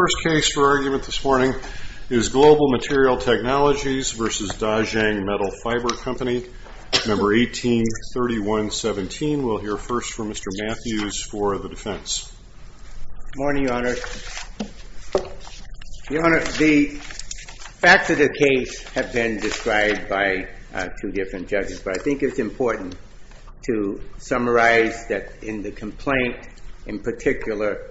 The first case for argument this morning is Global Material Technologies v. Dahzeng Metal Fibre Co., No. 183117. We'll hear first from Mr. Matthews for the defense. Good morning, Your Honor. Your Honor, the facts of the case have been described by two different judges, but I think it's important to summarize that in the complaint in particular,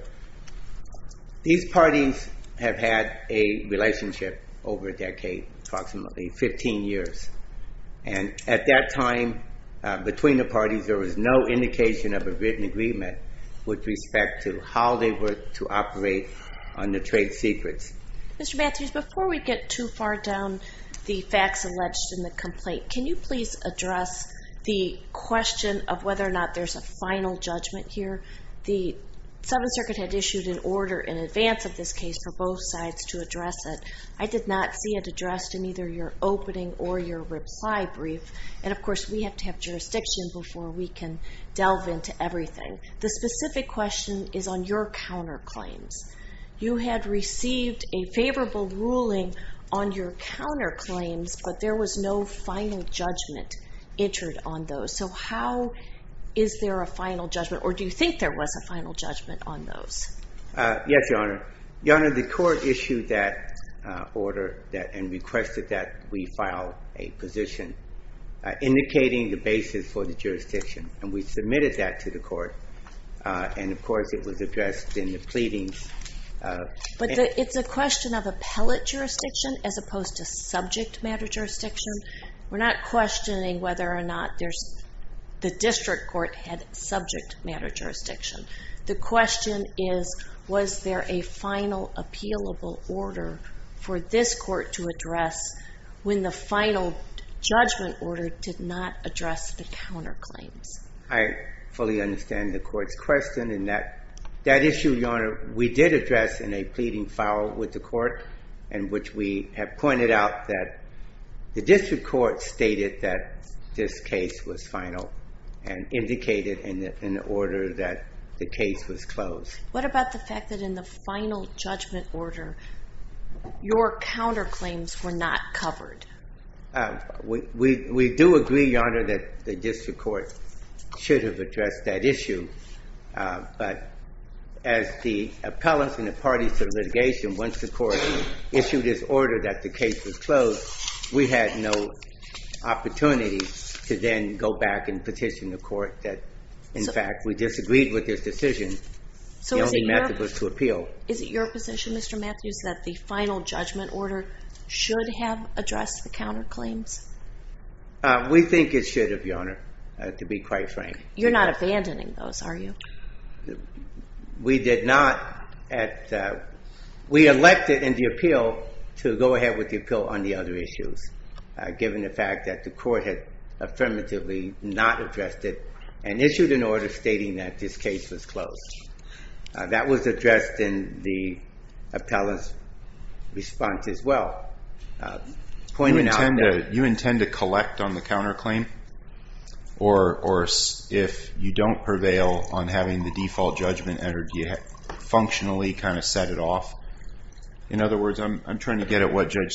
these parties have had a relationship over a decade, approximately 15 years. And at that time, between the parties, there was no indication of a written agreement with respect to how they were to operate on the trade secrets. Mr. Matthews, before we get too far down the facts alleged in the complaint, can you please address the question of whether or not there's a final judgment here? The Seventh Circuit had issued an order in advance of this case for both sides to address it. I did not see it addressed in either your opening or your reply brief. And of course, we have to have jurisdiction before we can delve into everything. The specific question is on your counterclaims. You had received a favorable ruling on your counterclaims, but there was no final judgment entered on those. So how is there a final judgment, or do you think there was a final judgment on those? Yes, Your Honor. Your Honor, the court issued that order and requested that we file a position indicating the basis for the jurisdiction, and we submitted that to the court. And of course, it was addressed in the pleadings. But it's a matter of jurisdiction. We're not questioning whether or not the district court had subject matter jurisdiction. The question is, was there a final appealable order for this court to address when the final judgment order did not address the counterclaims? I fully understand the court's question. And that issue, Your Honor, we did address in a pleading file with the court, in which we have pointed out that the district court stated that this case was final and indicated in the order that the case was closed. What about the fact that in the final judgment order, your counterclaims were not covered? We do agree, Your Honor, that the district court should have issued this order that the case was closed. We had no opportunity to then go back and petition the court that, in fact, we disagreed with this decision. The only method was to appeal. Is it your position, Mr. Matthews, that the final judgment order should have addressed the counterclaims? We think it should have, Your Honor, to be quite frank. You're not abandoning those, are you? We did not at, we elected in the appeal to go ahead with the appeal on the other issues, given the fact that the court had affirmatively not addressed it and issued an order stating that this case was closed. That was addressed in the appellant's response as well. You intend to have the default judgment order functionally kind of set it off? In other words, I'm trying to get at what, Judge,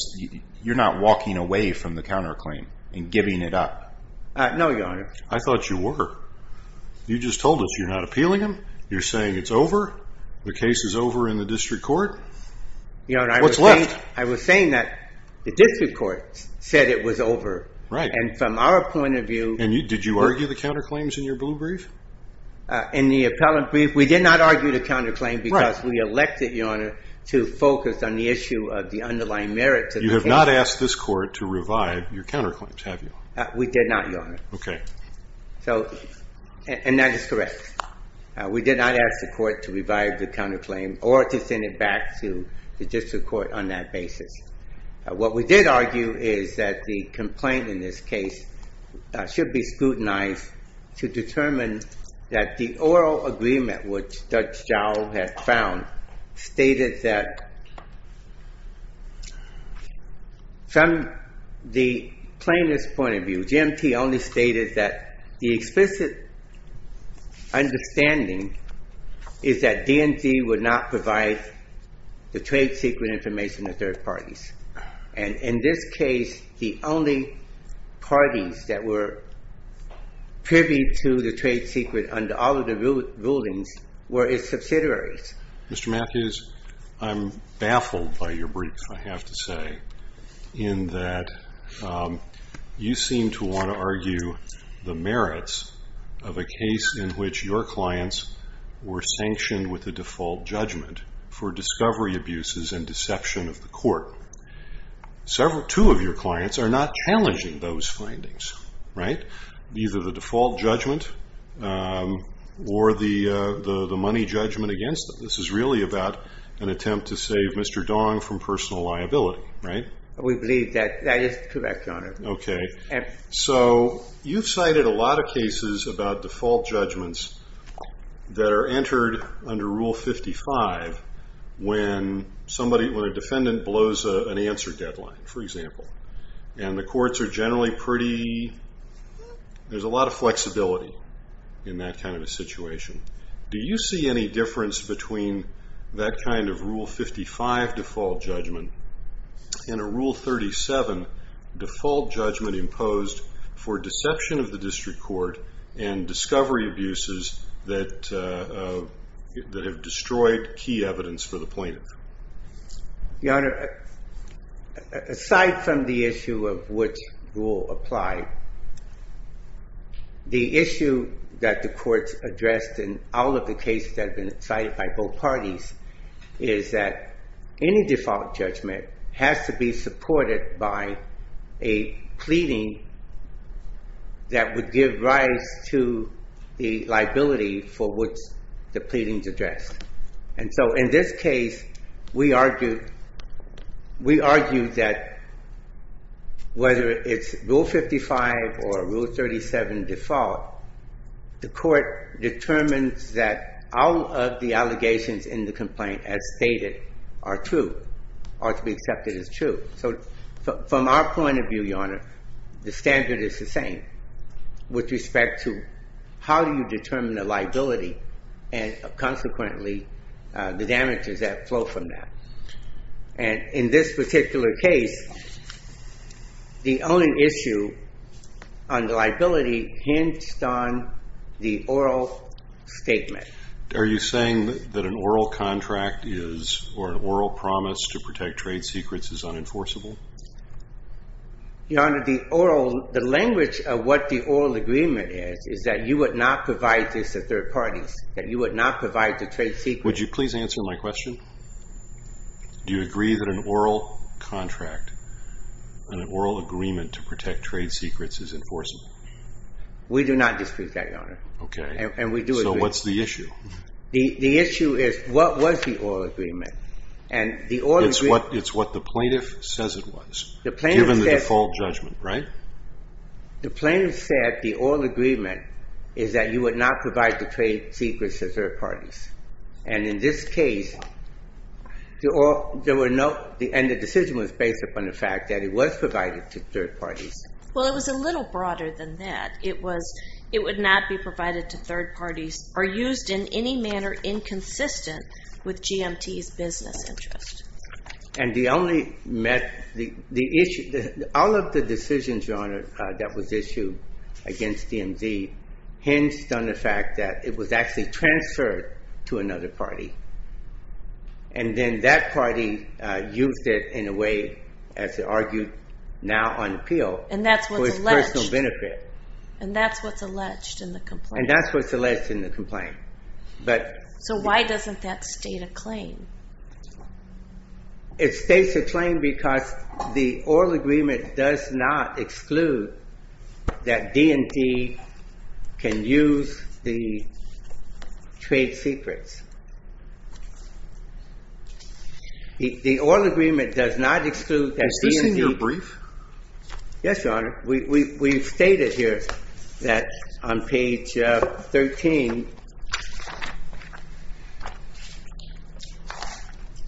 you're not walking away from the counterclaim and giving it up? No, Your Honor. I thought you were. You just told us you're not appealing them. You're saying it's over. The case is over in the district court. What's left? Your Honor, I was saying that the district court said it was over. Right. And from our point of view... Did you argue the counterclaims in your blue brief? In the appellant brief, we did not argue the counterclaim because we elected, Your Honor, to focus on the issue of the underlying merits of the case. You have not asked this court to revive your counterclaims, have you? We did not, Your Honor. Okay. So, and that is correct. We did not ask the court to revive the counterclaim or to send it back to the district court on that basis. What we did argue is that the complaint in this case should be scrutinized to determine that the oral agreement, which Judge Zhao has found, stated that from the plainest point of view, GMT only stated that the explicit understanding is that DNC would not provide the trade secret information to third parties. And in this case, the only parties that were privy to the trade secret under all of the rulings were its subsidiaries. Mr. Matthews, I'm baffled by your brief, I have to say, in that you seem to want to argue the merits of a case in which your clients were sanctioned with the default judgment for discovery abuses and deception of the right. Either the default judgment or the money judgment against them. This is really about an attempt to save Mr. Dong from personal liability, right? We believe that that is correct, Your Honor. Okay. So, you've cited a lot of cases about default judgments that are entered under Rule 55 when somebody, when a defendant blows an answer deadline, for example, and the courts are generally pretty, there's a lot of flexibility in that kind of a situation. Do you see any difference between that kind of Rule 55 default judgment and a Rule 37 default judgment imposed for deception of the district court and discovery abuses that have destroyed key evidence for the plaintiff? Your Honor, aside from the issue of which rule applied, the issue that the courts addressed in all of the cases that have been cited by both parties is that any default judgment has to be supported by a pleading that would give rise to the liability for which the pleadings addressed. And so, in this case, we argue that whether it's Rule 55 or Rule 37 default, the court determines that all of the allegations in the complaint as stated are true, are to be accepted as true. So, from our point of view, Your Honor, the standard is the same with respect to how do you determine the liability and, consequently, the damages that flow from that. And in this particular case, the only issue on the liability hinged on the oral statement. Are you saying that an oral contract is, or an oral promise to protect trade secrets is unenforceable? Your Honor, the oral, the language of what the oral agreement is, is that you would not provide this to third parties, that you would not provide the trade secrets. Would you please answer my question? Do you agree that an oral contract, an oral agreement to protect trade secrets is enforceable? We do not dispute that, Your Honor. Okay. And we do agree. So, what's the issue? The issue is, what was the oral agreement? And the oral agreement... It's what the plaintiff says it was, given the default judgment, right? The plaintiff said the oral agreement is that you would not provide the trade secrets to third parties. And in this case, there were no, and the decision was based upon the fact that it was provided to third parties. Well, it was a little broader than that. It was, it would not be provided to third parties or used in any manner inconsistent with GMT's business interest. And the only met, the issue, all of the decisions, Your Honor, that was issued against DMZ hinged on the fact that it was actually transferred to another party. And then that party used it in a way, as they argued now on appeal... And that's what's alleged. ...for its personal benefit. And that's what's alleged in the complaint. And that's what's alleged in the complaint. But... So why doesn't that state a claim? It states a claim because the oral agreement does not exclude that DMZ can use the trade secrets. The oral agreement does not exclude that DMZ... Has this been your brief? Yes, Your Honor. We've stated here that on page 13,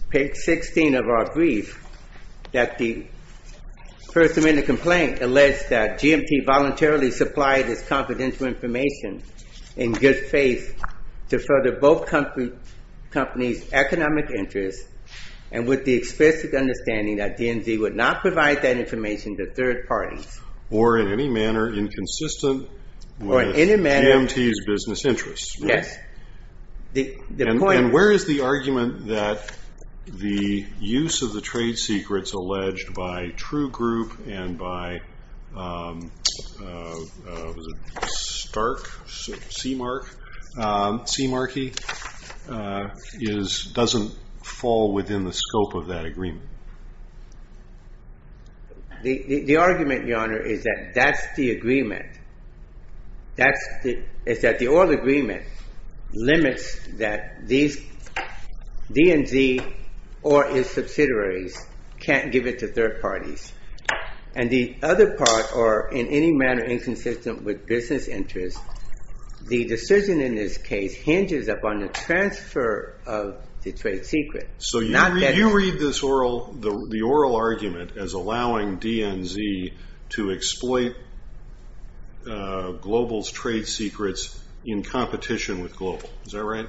page 16 of our brief, that the First Amendment complaint alleged that GMT voluntarily supplied its confidential information in good faith to further both companies' economic interests. And with the explicit understanding that DMZ would not provide that information to third parties. Or in any manner inconsistent with GMT's business interests. Yes. The point... And where is the argument that the use of the trade secrets alleged by True Group and by Stark, Sea Markey, doesn't fall within the scope of that agreement? The argument, Your Honor, is that that's the agreement. That's the... It's that the oral agreement limits that these DMZ or its subsidiaries can't give it to third parties. And the other part, or in any manner inconsistent with business interests, the decision in this case hinges upon the transfer of the trade secret. So you read the oral argument as allowing DMZ to exploit Global's trade secrets in competition with Global. Is that right?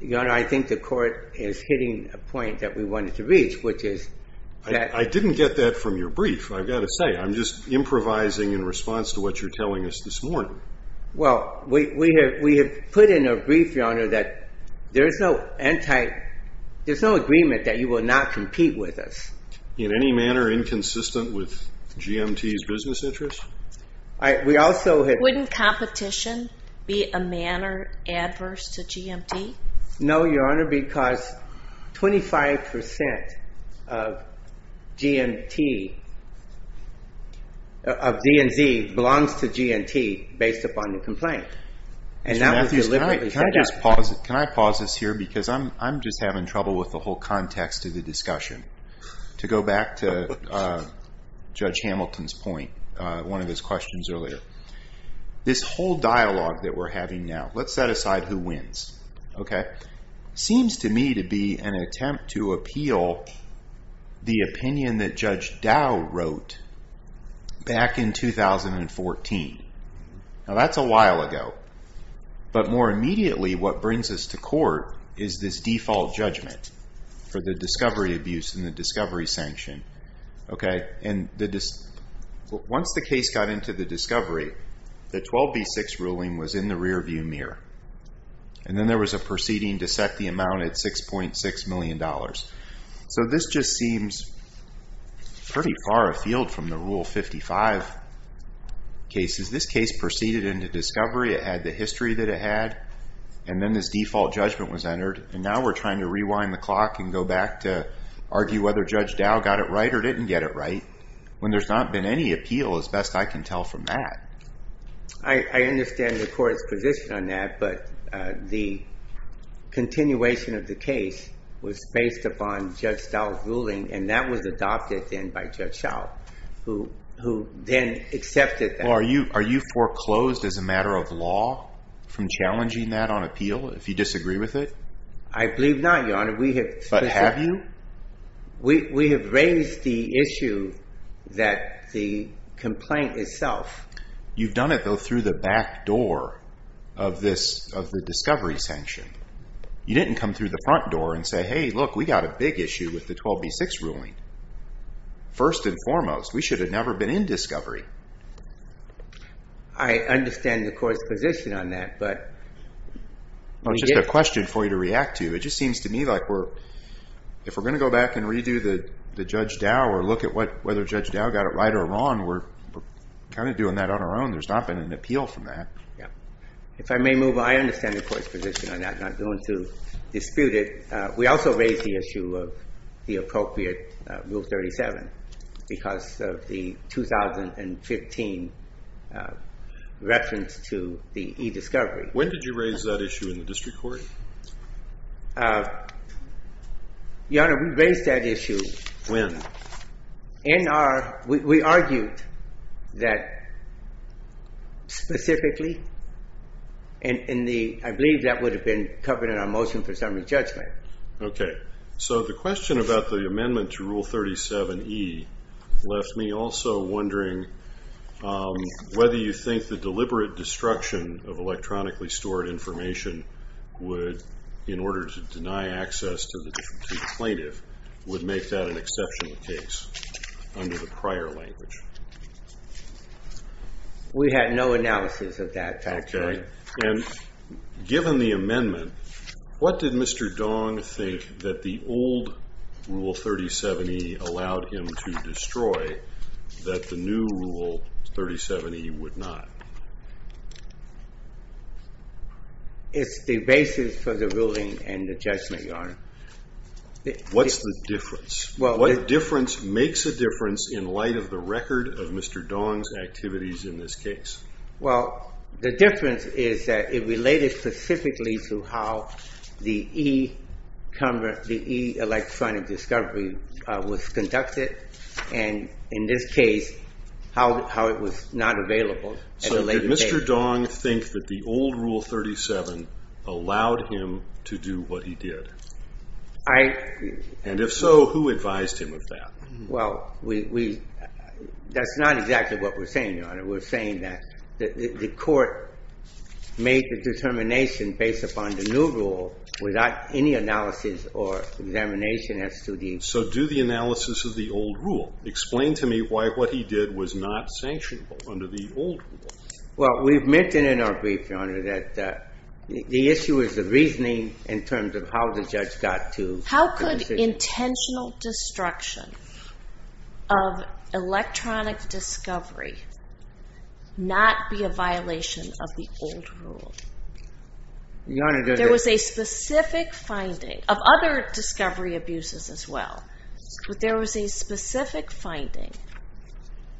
Your Honor, I think the court is hitting a point that we wanted to reach, which is that... I didn't get that from your brief. I've got to say, I'm just improvising in response to what you're telling us this morning. Well, we have put in a brief, Your Honor, that there's no anti... There's no agreement that you will not compete with us. In any manner inconsistent with GMT's business interest? We also have... Wouldn't competition be a manner adverse to GMT? No, Your Honor, because 25% of DMZ belongs to GMT based upon the complaint. And that was deliberately set up. Mr. Matthews, can I pause this here? Because I'm just having trouble with the whole context of the discussion. To go back to Judge Hamilton's point, one of his questions earlier. This whole dialogue that we're having now, let's set aside who wins, seems to me to be an attempt to appeal the opinion that Judge Dow wrote back in 2014. Now, that's a while ago. But more immediately, what brings us to court is this default judgment for the discovery abuse and the discovery sanction. Okay. And once the case got into the discovery, the 12B6 ruling was in the rear view mirror. And then there was a proceeding to set the amount at $6.6 million. So this just seems pretty far afield from the Rule 55 cases. This case proceeded into discovery. It had the history that it had. And then this default judgment was entered. And now we're trying to rewind the clock and go back to when there's not been any appeal, as best I can tell from that. I understand the court's position on that. But the continuation of the case was based upon Judge Dow's ruling. And that was adopted then by Judge Schall, who then accepted that. Well, are you foreclosed as a matter of law from challenging that on appeal, if you disagree with it? I believe not, Your Honor. We have... But have you? We have raised the issue that the complaint itself... You've done it, though, through the back door of the discovery sanction. You didn't come through the front door and say, hey, look, we got a big issue with the 12B6 ruling. First and foremost, we should have never been in discovery. I understand the court's position on that, but... Well, it's just a question for you to react to. It just seems to me like we're... If we're going to go back and redo the Judge Dow or look at whether Judge Dow got it right or wrong, we're kind of doing that on our own. There's not been an appeal from that. Yeah. If I may move, I understand the court's position on that. I'm not going to dispute it. We also raised the issue of the appropriate Rule 37 because of the 2015 reference to the e-discovery. When did you raise that issue in the district court? Your Honor, we raised that issue... When? In our... We argued that specifically in the... I believe that would have been covered in our motion for summary judgment. Okay. So the question about the amendment to Rule 37E left me also wondering whether you think the deliberate destruction of electronically stored information would, in order to deny access to the plaintiff, would make that an exceptional case under the prior language? We had no analysis of that, factually. Okay. And given the amendment, what did Mr. Dong think that the old Rule 37E allowed him to destroy that the new Rule 37E would not? It's the basis for the ruling and the judgment, Your Honor. What's the difference? What difference makes a difference in light of the record of Mr. Dong's activities in this case? Well, the difference is that it related specifically to how the e-electronic discovery was conducted, and in this case, how it was not available at the time. So did Mr. Dong think that the old Rule 37 allowed him to do what he did? And if so, who advised him of that? Well, that's not exactly what we're saying, Your Honor. We're saying that the court made the determination based upon the new rule without any analysis or examination as to the... So do the analysis of the old rule. Explain to me why what he did was not sanctionable under the old rule. Well, we've mentioned in our brief, Your Honor, that the issue is the reasoning in terms of how the judge got to... How could intentional destruction of electronic discovery not be a violation of the old rule? There was a specific finding of other discovery abuses as well, but there was a specific finding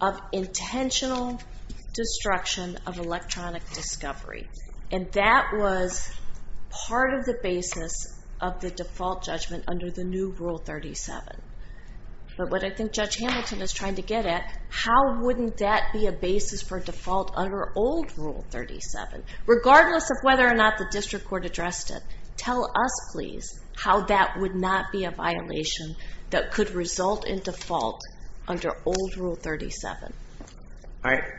of intentional destruction of electronic discovery, and that was part of the basis of the default judgment under the new Rule 37. But what I think Judge Hamilton is trying to get at, how wouldn't that be a basis for default under old Rule 37, regardless of whether or not the district court addressed it? Tell us, please, how that would not be a violation that could result in default under old Rule 37.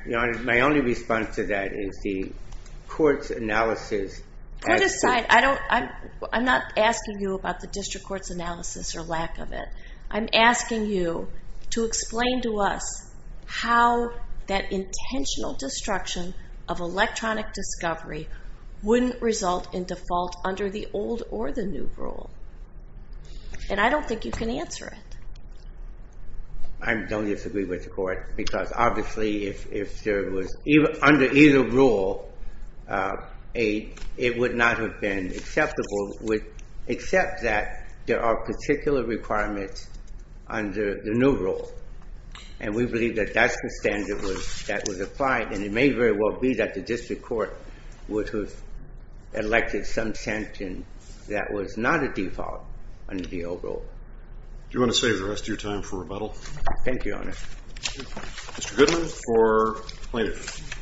Your Honor, my only response to that is the court's analysis... Court aside, I'm not asking you about the district court's analysis or lack of it. I'm asking you to explain to us how that intentional destruction of electronic discovery wouldn't result in default under the old or the new rule. And I don't think you can answer it. I don't disagree with the court, because obviously if there was... Under either rule, it would not have been acceptable, except that there are particular requirements under the new rule. And we believe that that's the standard that was applied, and it may very well be that the district court would have elected some sanction that was not a default under the old rule. Do you want to save the rest of your time for rebuttal? Thank you, Your Honor. Mr. Goodman for plaintiff.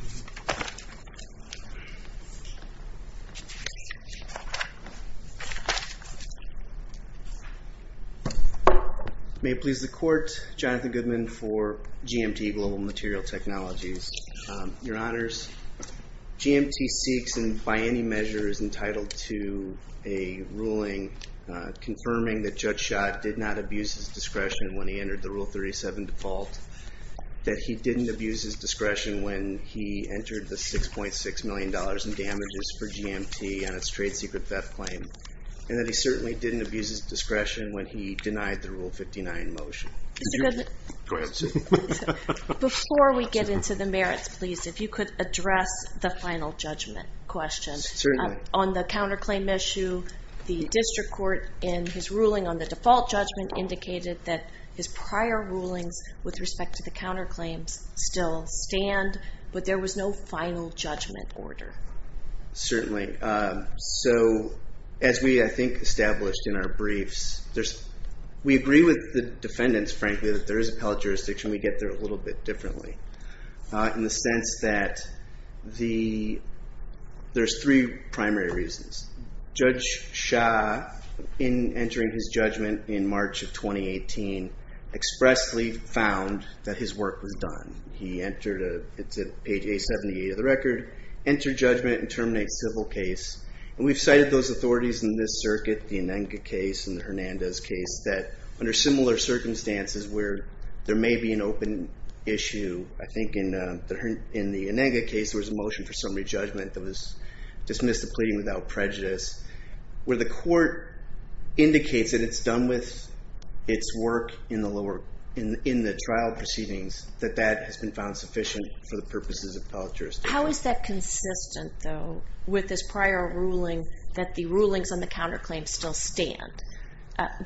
May it please the court, Jonathan Goodman for GMT Global Material Technologies. Your Honors, GMT seeks and by any measure is entitled to a ruling confirming that Judge Schott did not abuse his discretion when he entered the Rule 37 default, that he didn't abuse his discretion when he entered the $6.6 million in damages for GMT on its trade secret theft claim, and that he certainly didn't abuse his discretion when he denied the Rule 59 motion. Before we get into the merits, please, if you could address the final judgment question. Certainly. On the counterclaim issue, the district court in his ruling on the default judgment indicated that his prior rulings with respect to the counterclaims still stand, but there was no final judgment order. Certainly. So as we, I think, established in our briefs, we agree with the defendants, frankly, that there is appellate jurisdiction. We get there a little bit differently in the sense that there's three primary reasons. Judge Schott, in entering his judgment in March of 2018, expressly found that his work was done. He entered, it's at page 878 of the record, enter judgment and terminate civil case. And we've cited those authorities in this circuit, the Ananga case and the Hernandez case, that under similar circumstances where there may be an open issue, I think in the Ananga case, there was a motion for summary judgment that was its work in the lower, in the trial proceedings, that that has been found sufficient for the purposes of appellate jurisdiction. How is that consistent, though, with his prior ruling that the rulings on the counterclaims still stand?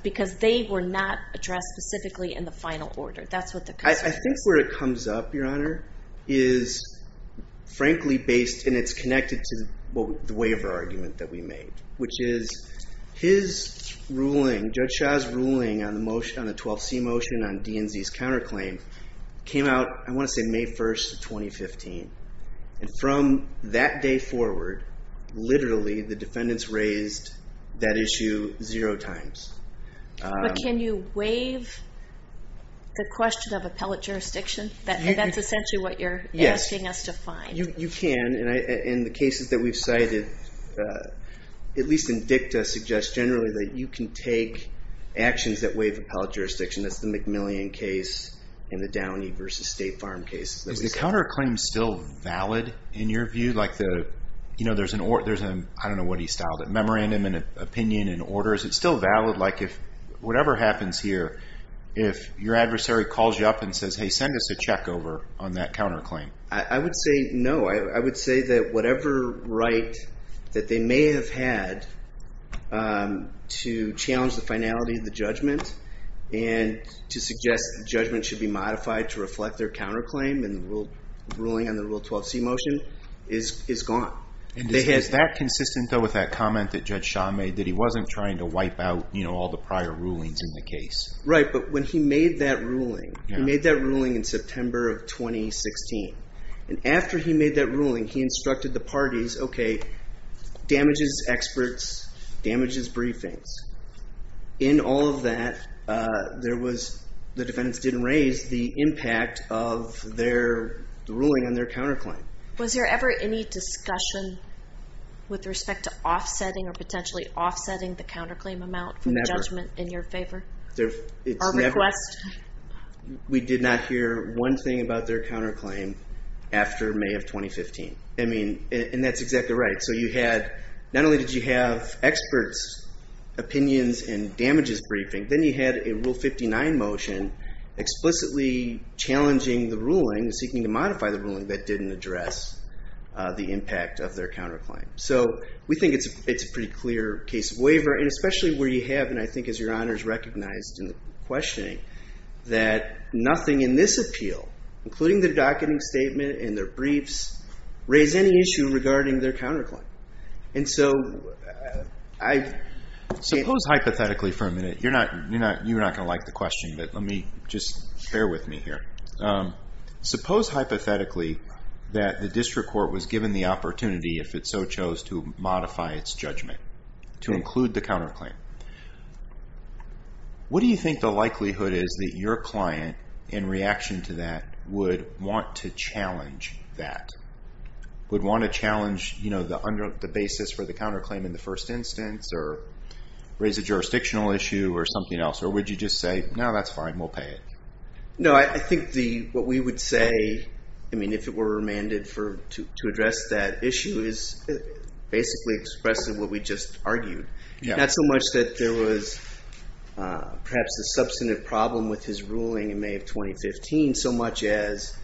Because they were not addressed specifically in the final order. That's what the- I think where it comes up, Your Honor, is frankly based, and it's connected to the waiver argument that we made, which is his ruling, Judge Schott's ruling on the 12C motion on DNZ's counterclaim, came out, I want to say, May 1st of 2015. And from that day forward, literally, the defendants raised that issue zero times. But can you waive the question of appellate jurisdiction? That's essentially what you're asking us to find. Yes, you can. And the cases that we've cited, at least in dicta, suggest generally that you can take actions that waive appellate jurisdiction. That's the McMillian case and the Downey versus State Farm case. Is the counterclaim still valid in your view? There's an, I don't know what he styled it, memorandum and opinion and orders. It's still valid, like if whatever happens here, if your adversary calls you up and says, send us a check over on that counterclaim. I would say no. I would say that whatever right that they may have had to challenge the finality of the judgment and to suggest the judgment should be modified to reflect their counterclaim and the ruling on the Rule 12C motion is gone. And is that consistent, though, with that comment that Judge Shah made, that he wasn't trying to wipe out all the prior rulings in the case? Right. But when he made that ruling, he made that ruling in September of 2016. And after he made that ruling, he instructed the parties, okay, damages experts, damages briefings. In all of that, there was, the defendants didn't raise the impact of their ruling on their counterclaim. Was there ever any discussion with respect to offsetting or potentially offsetting the counterclaim amount for the judgment in your favor? Never. Or request? We did not hear one thing about their counterclaim after May of 2015. I mean, and that's exactly right. So you had, not only did you have experts' opinions and damages briefing, then you had a Rule 59 motion explicitly challenging the ruling and seeking to modify the ruling that didn't address the impact of their counterclaim. So we think it's a pretty clear case of waiver, and especially where you have, and I think as your Honor's recognized in the questioning, that nothing in this appeal, including their docketing statement and their briefs, raise any issue regarding their counterclaim. And so I... Suppose hypothetically for a minute, you're not going to like the question, but let me just bear with me here. Suppose hypothetically that the district court was given the opportunity, if it so chose, to modify its judgment, to include the counterclaim. What do you think the likelihood is that your client, in reaction to that, would want to challenge that? Would want to challenge the basis for the counterclaim in the first instance, or raise a jurisdictional issue or something else? Or would you just say, no, that's fine, we'll pay it? No, I think what we would say, if it were remanded to address that issue, is basically expressing what we just argued. Not so much that there was perhaps a substantive problem with his ruling in May of 2015, so much as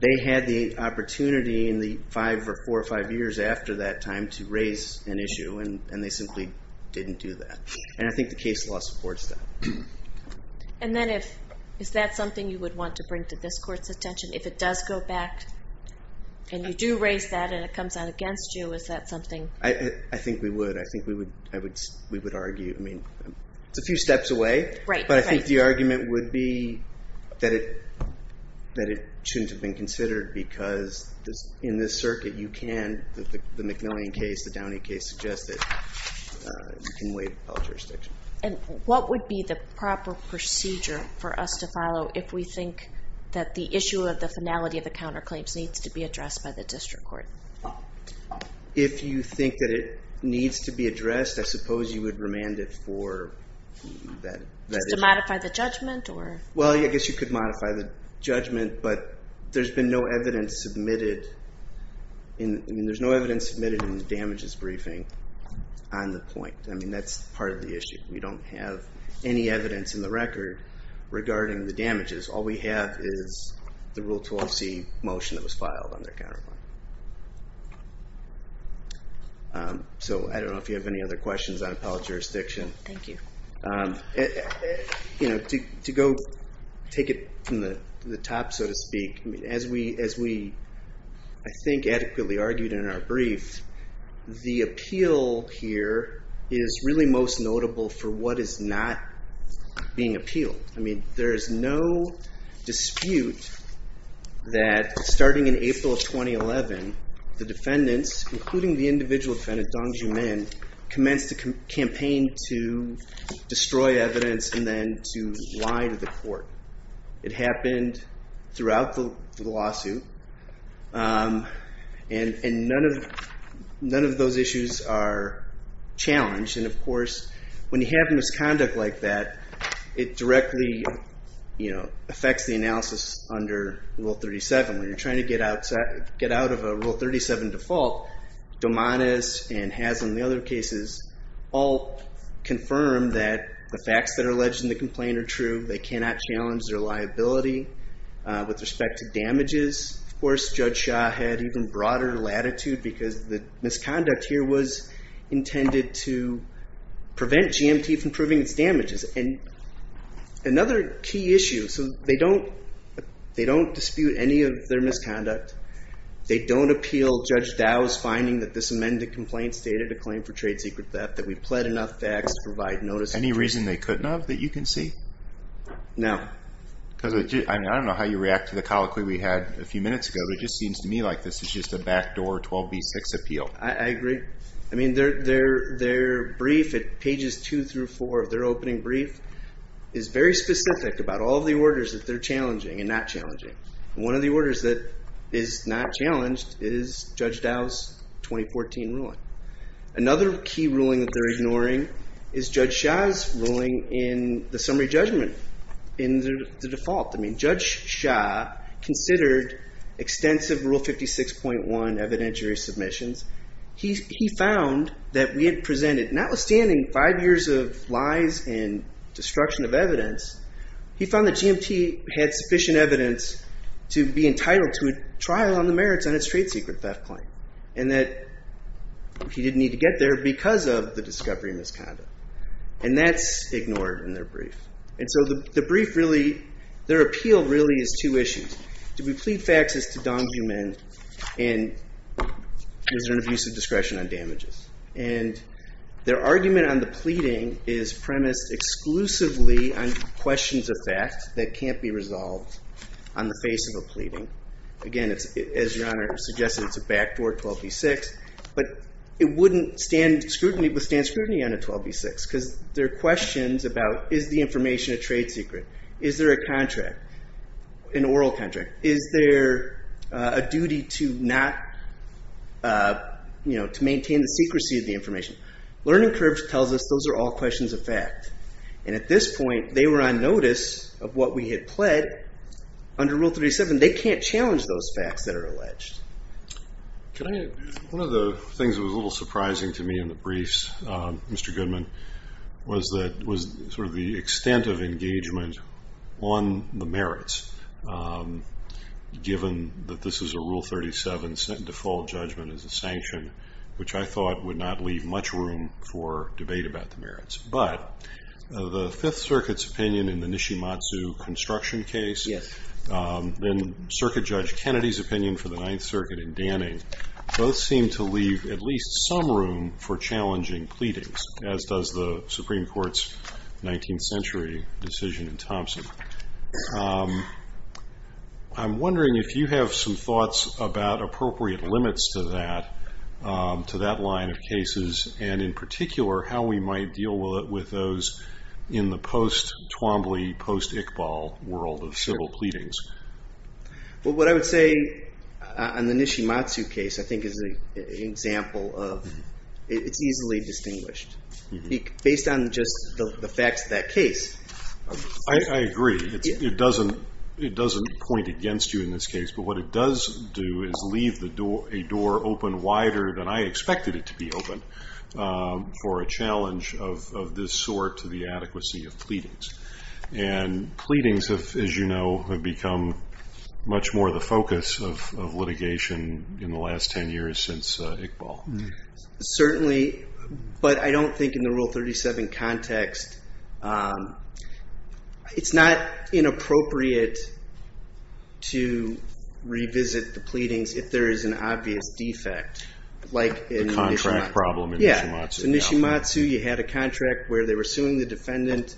they had the opportunity in the five or four or five years after that time to raise an issue, and they simply didn't do that. And I think the is that something you would want to bring to this court's attention? If it does go back and you do raise that and it comes out against you, is that something? I think we would. I think we would argue. I mean, it's a few steps away, but I think the argument would be that it shouldn't have been considered because in this circuit, you can, the McMillian case, the Downey case suggested, you can waive all jurisdiction. And what would be the proper procedure for us to follow if we think that the issue of the finality of the counterclaims needs to be addressed by the district court? If you think that it needs to be addressed, I suppose you would remand it for that issue. Just to modify the judgment, or? Well, I guess you could modify the judgment, but there's been no evidence submitted. I mean, there's no evidence submitted in the damages briefing on the point. I mean, that's part of the issue. We don't have any evidence in the record regarding the damages. All we have is the Rule 12c motion that was filed on their counterclaim. So I don't know if you have any other questions on appellate jurisdiction. Thank you. To go take it from the top, so to speak, as we, I think, adequately argued in our brief, the appeal here is really most notable for what is not being appealed. I mean, there is no dispute that, starting in April of 2011, the defendants, including the individual defendant, Dong Joo Min, commenced a campaign to destroy evidence and then to lie to the court. It happened throughout the lawsuit, and none of those issues are challenged. And, of course, when you have misconduct like that, it directly affects the analysis under Rule 37. When you're trying to get out of a Rule 37 default, Domanis and Haslam, the other cases, all confirm that the facts that are alleged in the complaint are true. They cannot challenge their liability. With respect to damages, of course, Judge Shah had even broader latitude because the misconduct here was intended to prevent GMT from proving its damages. And another key issue, so they don't dispute any of their misconduct. They don't appeal Judge Dow's finding that this amended complaint stated a claim for trade secret theft, that we pled enough facts to provide notice. Any reason they couldn't have that you can see? No. Because, I mean, I don't know how you react to the colloquy we had a few minutes ago, but it just seems to me like this is just a backdoor 12b-6 appeal. I agree. I mean, their brief at pages two through four of their opening brief is very specific about all the orders that they're challenging and not challenging. One of the orders that is not challenged is Judge Dow's 2014 ruling. Another key ruling that they're ignoring is Judge Shah's ruling in the summary judgment in the default. I mean, Judge Shah considered extensive Rule 56.1 evidentiary submissions. He found that we had presented, notwithstanding five years of lies and destruction of evidence, he found that GMT had sufficient evidence to be entitled to a trial on the merits on its trade secret theft claim, and that he didn't need to get there because of the discovery of misconduct. And that's ignored in their brief. And so the brief really, their appeal really is two issues. Do we plead facts as to Dong Ju Min, and is there an abuse of discretion on damages? And their argument on the pleading is premised exclusively on questions of fact that can't be suggested. It's a backdoor 12b6, but it wouldn't stand scrutiny on a 12b6 because there are questions about is the information a trade secret? Is there a contract, an oral contract? Is there a duty to not, you know, to maintain the secrecy of the information? Learning curves tells us those are all questions of fact. And at this point, they were on notice of what we had under Rule 37. They can't challenge those facts that are alleged. One of the things that was a little surprising to me in the briefs, Mr. Goodman, was that, was sort of the extent of engagement on the merits, given that this is a Rule 37 default judgment as a sanction, which I thought would not leave much room for debate about the merits. But the Fifth Circuit's opinion in the Nishimatsu construction case, and Circuit Judge Kennedy's opinion for the Ninth Circuit in Danning, both seem to leave at least some room for challenging pleadings, as does the Supreme Court's 19th century decision in Thompson. I'm wondering if you have some thoughts about appropriate limits to that line of cases, and in particular, how we might deal with those in the post-Twombly, post-Iqbal world of civil pleadings. Well, what I would say on the Nishimatsu case, I think is an example of, it's easily distinguished. Based on just the facts of that case. I agree. It doesn't point against you in this case. But what it does do is leave a door open wider than I expected it to be open. For a challenge of this sort to the adequacy of pleadings. And pleadings have, as you know, have become much more the focus of litigation in the last 10 years since Iqbal. Certainly, but I don't think in the Rule 37 context, it's not inappropriate to revisit the pleadings if there is an obvious defect. Like the contract problem in Nishimatsu. In Nishimatsu, you had a contract where they were suing the defendant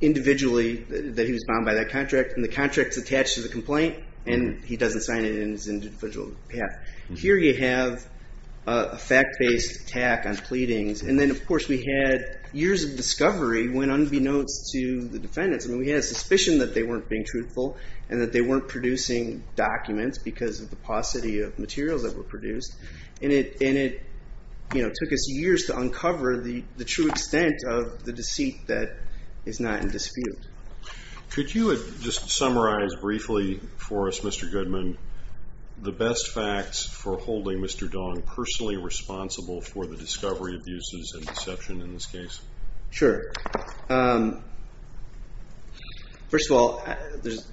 individually, that he was bound by that contract. And the contract's attached to the complaint, and he doesn't sign it in his individual path. Here you have a fact-based attack on pleadings. And then of course, we had years of discovery when unbeknownst to the defendants. We had a suspicion that they weren't being truthful, and that they weren't producing documents because of the paucity of materials that were produced. And it took us years to uncover the true extent of the deceit that is not in dispute. Could you just summarize briefly for us, Mr. Goodman, the best facts for holding Mr. Dong personally responsible for the discovery abuses and deception in this case? Sure. First of all, there's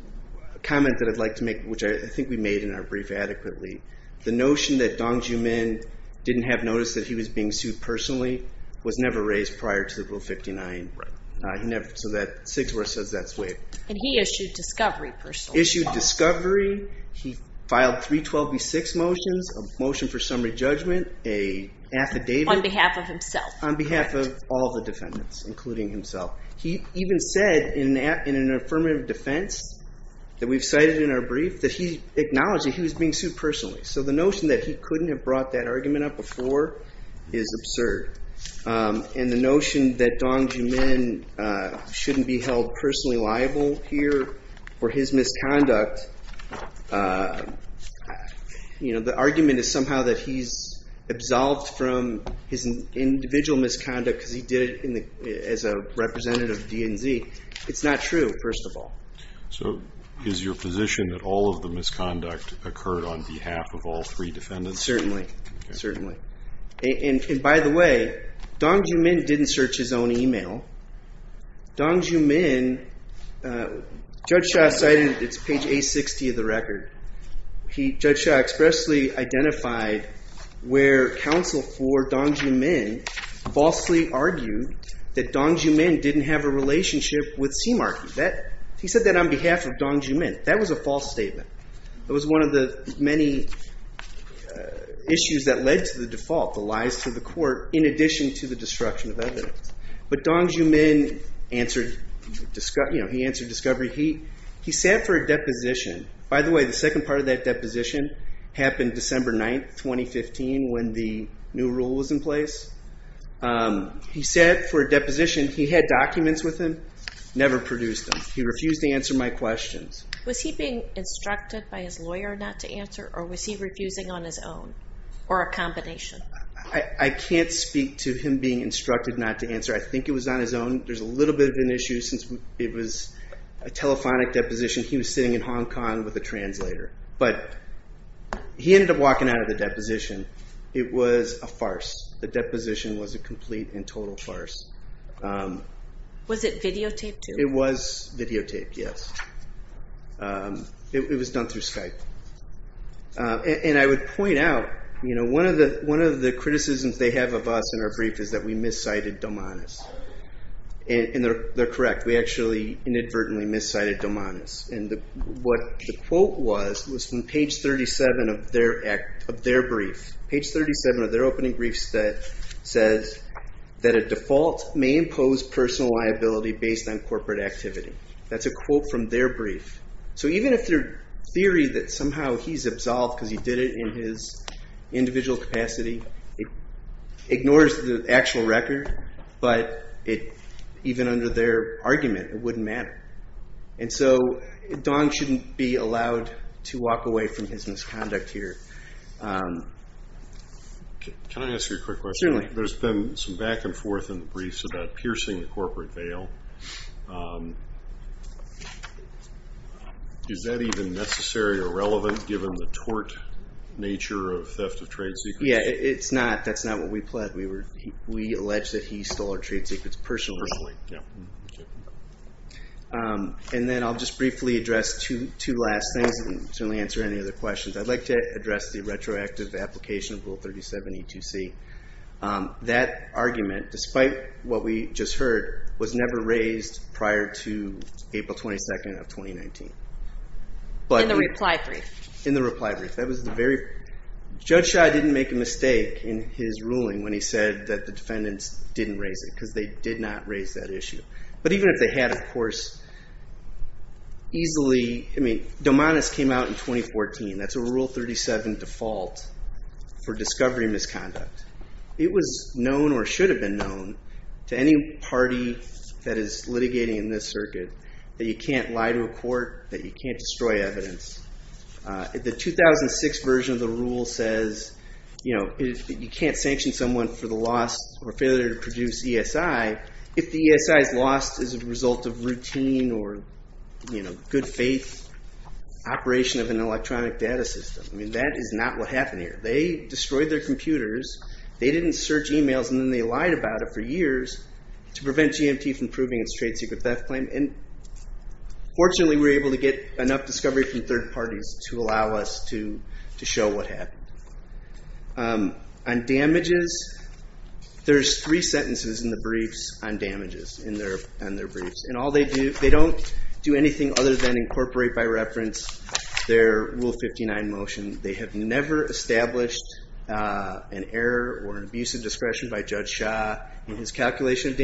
a comment that I'd like to make, which I think we made in our brief adequately. The notion that Dong Joo-min didn't have noticed that he was being sued personally was never raised prior to the Rule 59. So Sigsborg says that's waived. And he issued discovery. Issued discovery. He filed 312B6 motions, a motion for summary judgment, a affidavit. On behalf of himself. On behalf of all the defendants, including himself. He even said in an affirmative defense that we've cited in our brief that he acknowledged that he was being sued personally. So the notion that he couldn't have brought that argument up before is absurd. And the notion that Dong Joo-min shouldn't be held personally liable here for his absolved from his individual misconduct because he did it as a representative of DNZ, it's not true, first of all. So is your position that all of the misconduct occurred on behalf of all three defendants? Certainly. Certainly. And by the way, Dong Joo-min didn't search his own email. Dong Joo-min, Judge Shah cited, it's page A60 of the record. Judge Shah expressly identified where counsel for Dong Joo-min falsely argued that Dong Joo-min didn't have a relationship with Sea Marquis. He said that on behalf of Dong Joo-min. That was a false statement. It was one of the many issues that led to the default, the lies to the court, in addition to the destruction of evidence. But Dong Joo-min answered discovery. He sat for a deposition. By the way, the second part of that deposition happened December 9th, 2015 when the new rule was in place. He sat for a deposition. He had documents with him, never produced them. He refused to answer my questions. Was he being instructed by his lawyer not to answer or was he refusing on his own or a combination? I can't speak to him being instructed not to answer. I think it was on his own. There's a little bit of an issue since it was a telephonic deposition. He was sitting in Hong Kong with a translator. But he ended up walking out of the deposition. It was a farce. The deposition was a complete and total farce. Was it videotaped too? It was videotaped, yes. It was done through Skype. I would point out, one of the criticisms they have of us in our brief is that we miscited Domanes. They're correct. We actually inadvertently miscited Domanes. What the quote was was from page 37 of their brief. Page 37 of their opening brief says that a default may impose personal liability based on corporate activity. That's a quote from their brief. Even if their theory that somehow he's absolved because he did it in his individual capacity ignores the actual record, but even under their argument, it wouldn't matter. Dom shouldn't be allowed to walk away from his misconduct here. Can I ask you a quick question? Certainly. There's been some back and forth in the briefs about piercing the corporate veil. Is that even necessary or relevant given the tort nature of theft of trade secrets? It's not. That's not what we pled. We allege that he stole our trade secrets personally. I'll just briefly address two last things and certainly answer any other questions. I'd like to address the retroactive application of Rule 37E2C. That argument, despite what we just heard, was never raised prior to April 22nd of 2019. In the reply brief. In the reply brief. That was the very... Judge Shah didn't make a mistake in his ruling when he said that the defendants didn't raise it because they did not raise that issue. But even if they had, of course, easily... I mean, Domanis came out in 2014. That's a Rule 37 default for discovery misconduct. It was known or should have been known to any party that is litigating in this circuit that you can't lie to a court, that you can't destroy evidence. The 2006 version of the rule says you can't sanction someone for the loss or failure to produce ESI if the ESI is lost as a result of routine or good faith operation of an electronic data system. I mean, that is not what happened here. They destroyed their computers. They didn't search emails and then they lied about it for Fortunately, we were able to get enough discovery from third parties to allow us to show what happened. On damages, there's three sentences in the briefs on damages in their briefs. And all they do, they don't do anything other than incorporate by reference their Rule 59 motion. They have never established an error or an abuse of discretion by Judge Shah in his calculation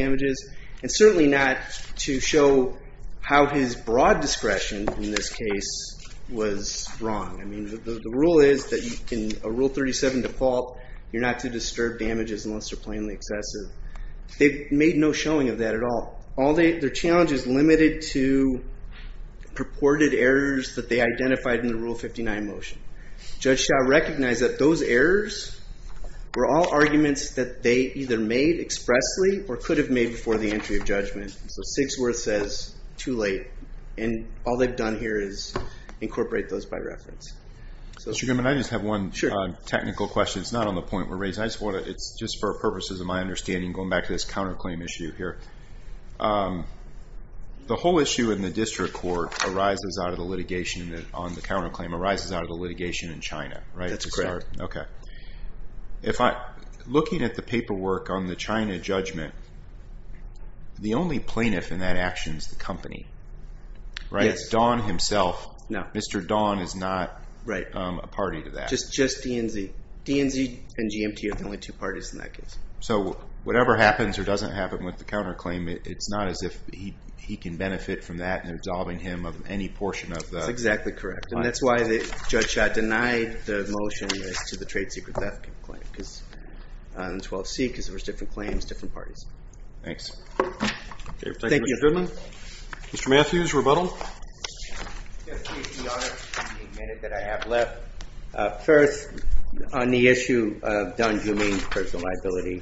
of his broad discretion in this case was wrong. I mean, the rule is that in a Rule 37 default, you're not to disturb damages unless they're plainly excessive. They've made no showing of that at all. Their challenge is limited to purported errors that they identified in the Rule 59 motion. Judge Shah recognized that those errors were all arguments that they either made expressly or could have made before the entry of judgment. So Sigsworth says too late. And all they've done here is incorporate those by reference. So, Mr. Goodman, I just have one technical question. It's not on the point we're raising. I just want to, it's just for purposes of my understanding, going back to this counterclaim issue here. The whole issue in the district court arises out of the litigation on the counterclaim, arises out of the litigation in China, right? That's correct. Okay. If I, looking at the paperwork on the China judgment, the only plaintiff in that action is the company, right? It's Don himself. Mr. Don is not a party to that. Just DNZ. DNZ and GMT are the only two parties in that case. So whatever happens or doesn't happen with the counterclaim, it's not as if he can benefit from that and absolving him of any portion of the... to the trade secret theft claim. Because on 12C, because there was different claims, different parties. Thanks. Thank you, Mr. Goodman. Mr. Matthews, rebuttal. Yes, Your Honor. The minute that I have left. First, on the issue of Don Jumaine's personal liability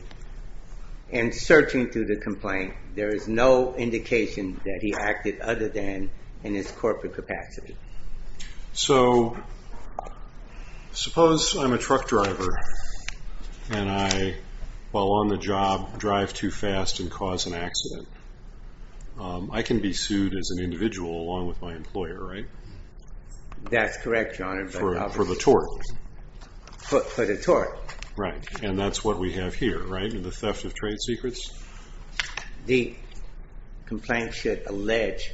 and searching through the complaint, there is no indication that he acted other than in his corporate capacity. So, suppose I'm a truck driver and I, while on the job, drive too fast and cause an accident. I can be sued as an individual along with my employer, right? That's correct, Your Honor, but... For the tort. For the tort. Right. And that's what we have here, right? The theft of trade secrets. The complaint should allege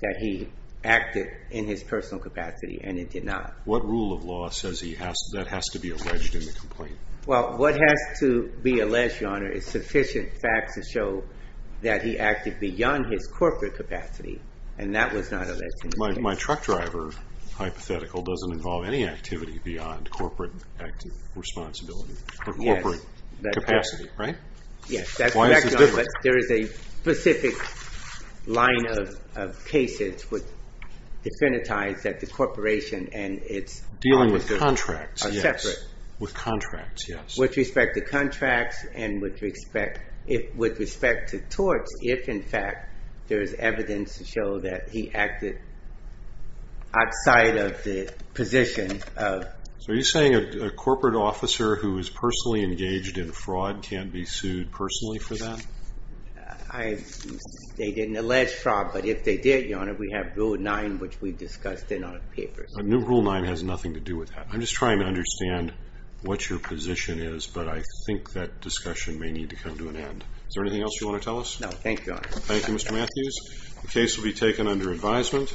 that he acted in his personal capacity and it did not. What rule of law says that has to be alleged in the complaint? Well, what has to be alleged, Your Honor, is sufficient facts to show that he acted beyond his corporate capacity and that was not alleged in the complaint. My truck driver hypothetical doesn't involve any activity beyond corporate active responsibility or corporate capacity, right? Yes, that's correct, Your Honor, but there is a specific line of cases which definitize that the corporation and its... Dealing with contracts, yes. ...are separate. With contracts, yes. With respect to contracts and with respect to torts, if, in fact, there is evidence to show that he acted outside of the position of... Are you saying a corporate officer who is personally engaged in fraud can't be sued personally for that? I... They didn't allege fraud, but if they did, Your Honor, we have Rule 9, which we discussed in our papers. New Rule 9 has nothing to do with that. I'm just trying to understand what your position is, but I think that discussion may need to come to an end. Is there anything else you want to tell us? No, thank you, Your Honor. Thank you, Mr. Matthews. The case will be taken under advisement.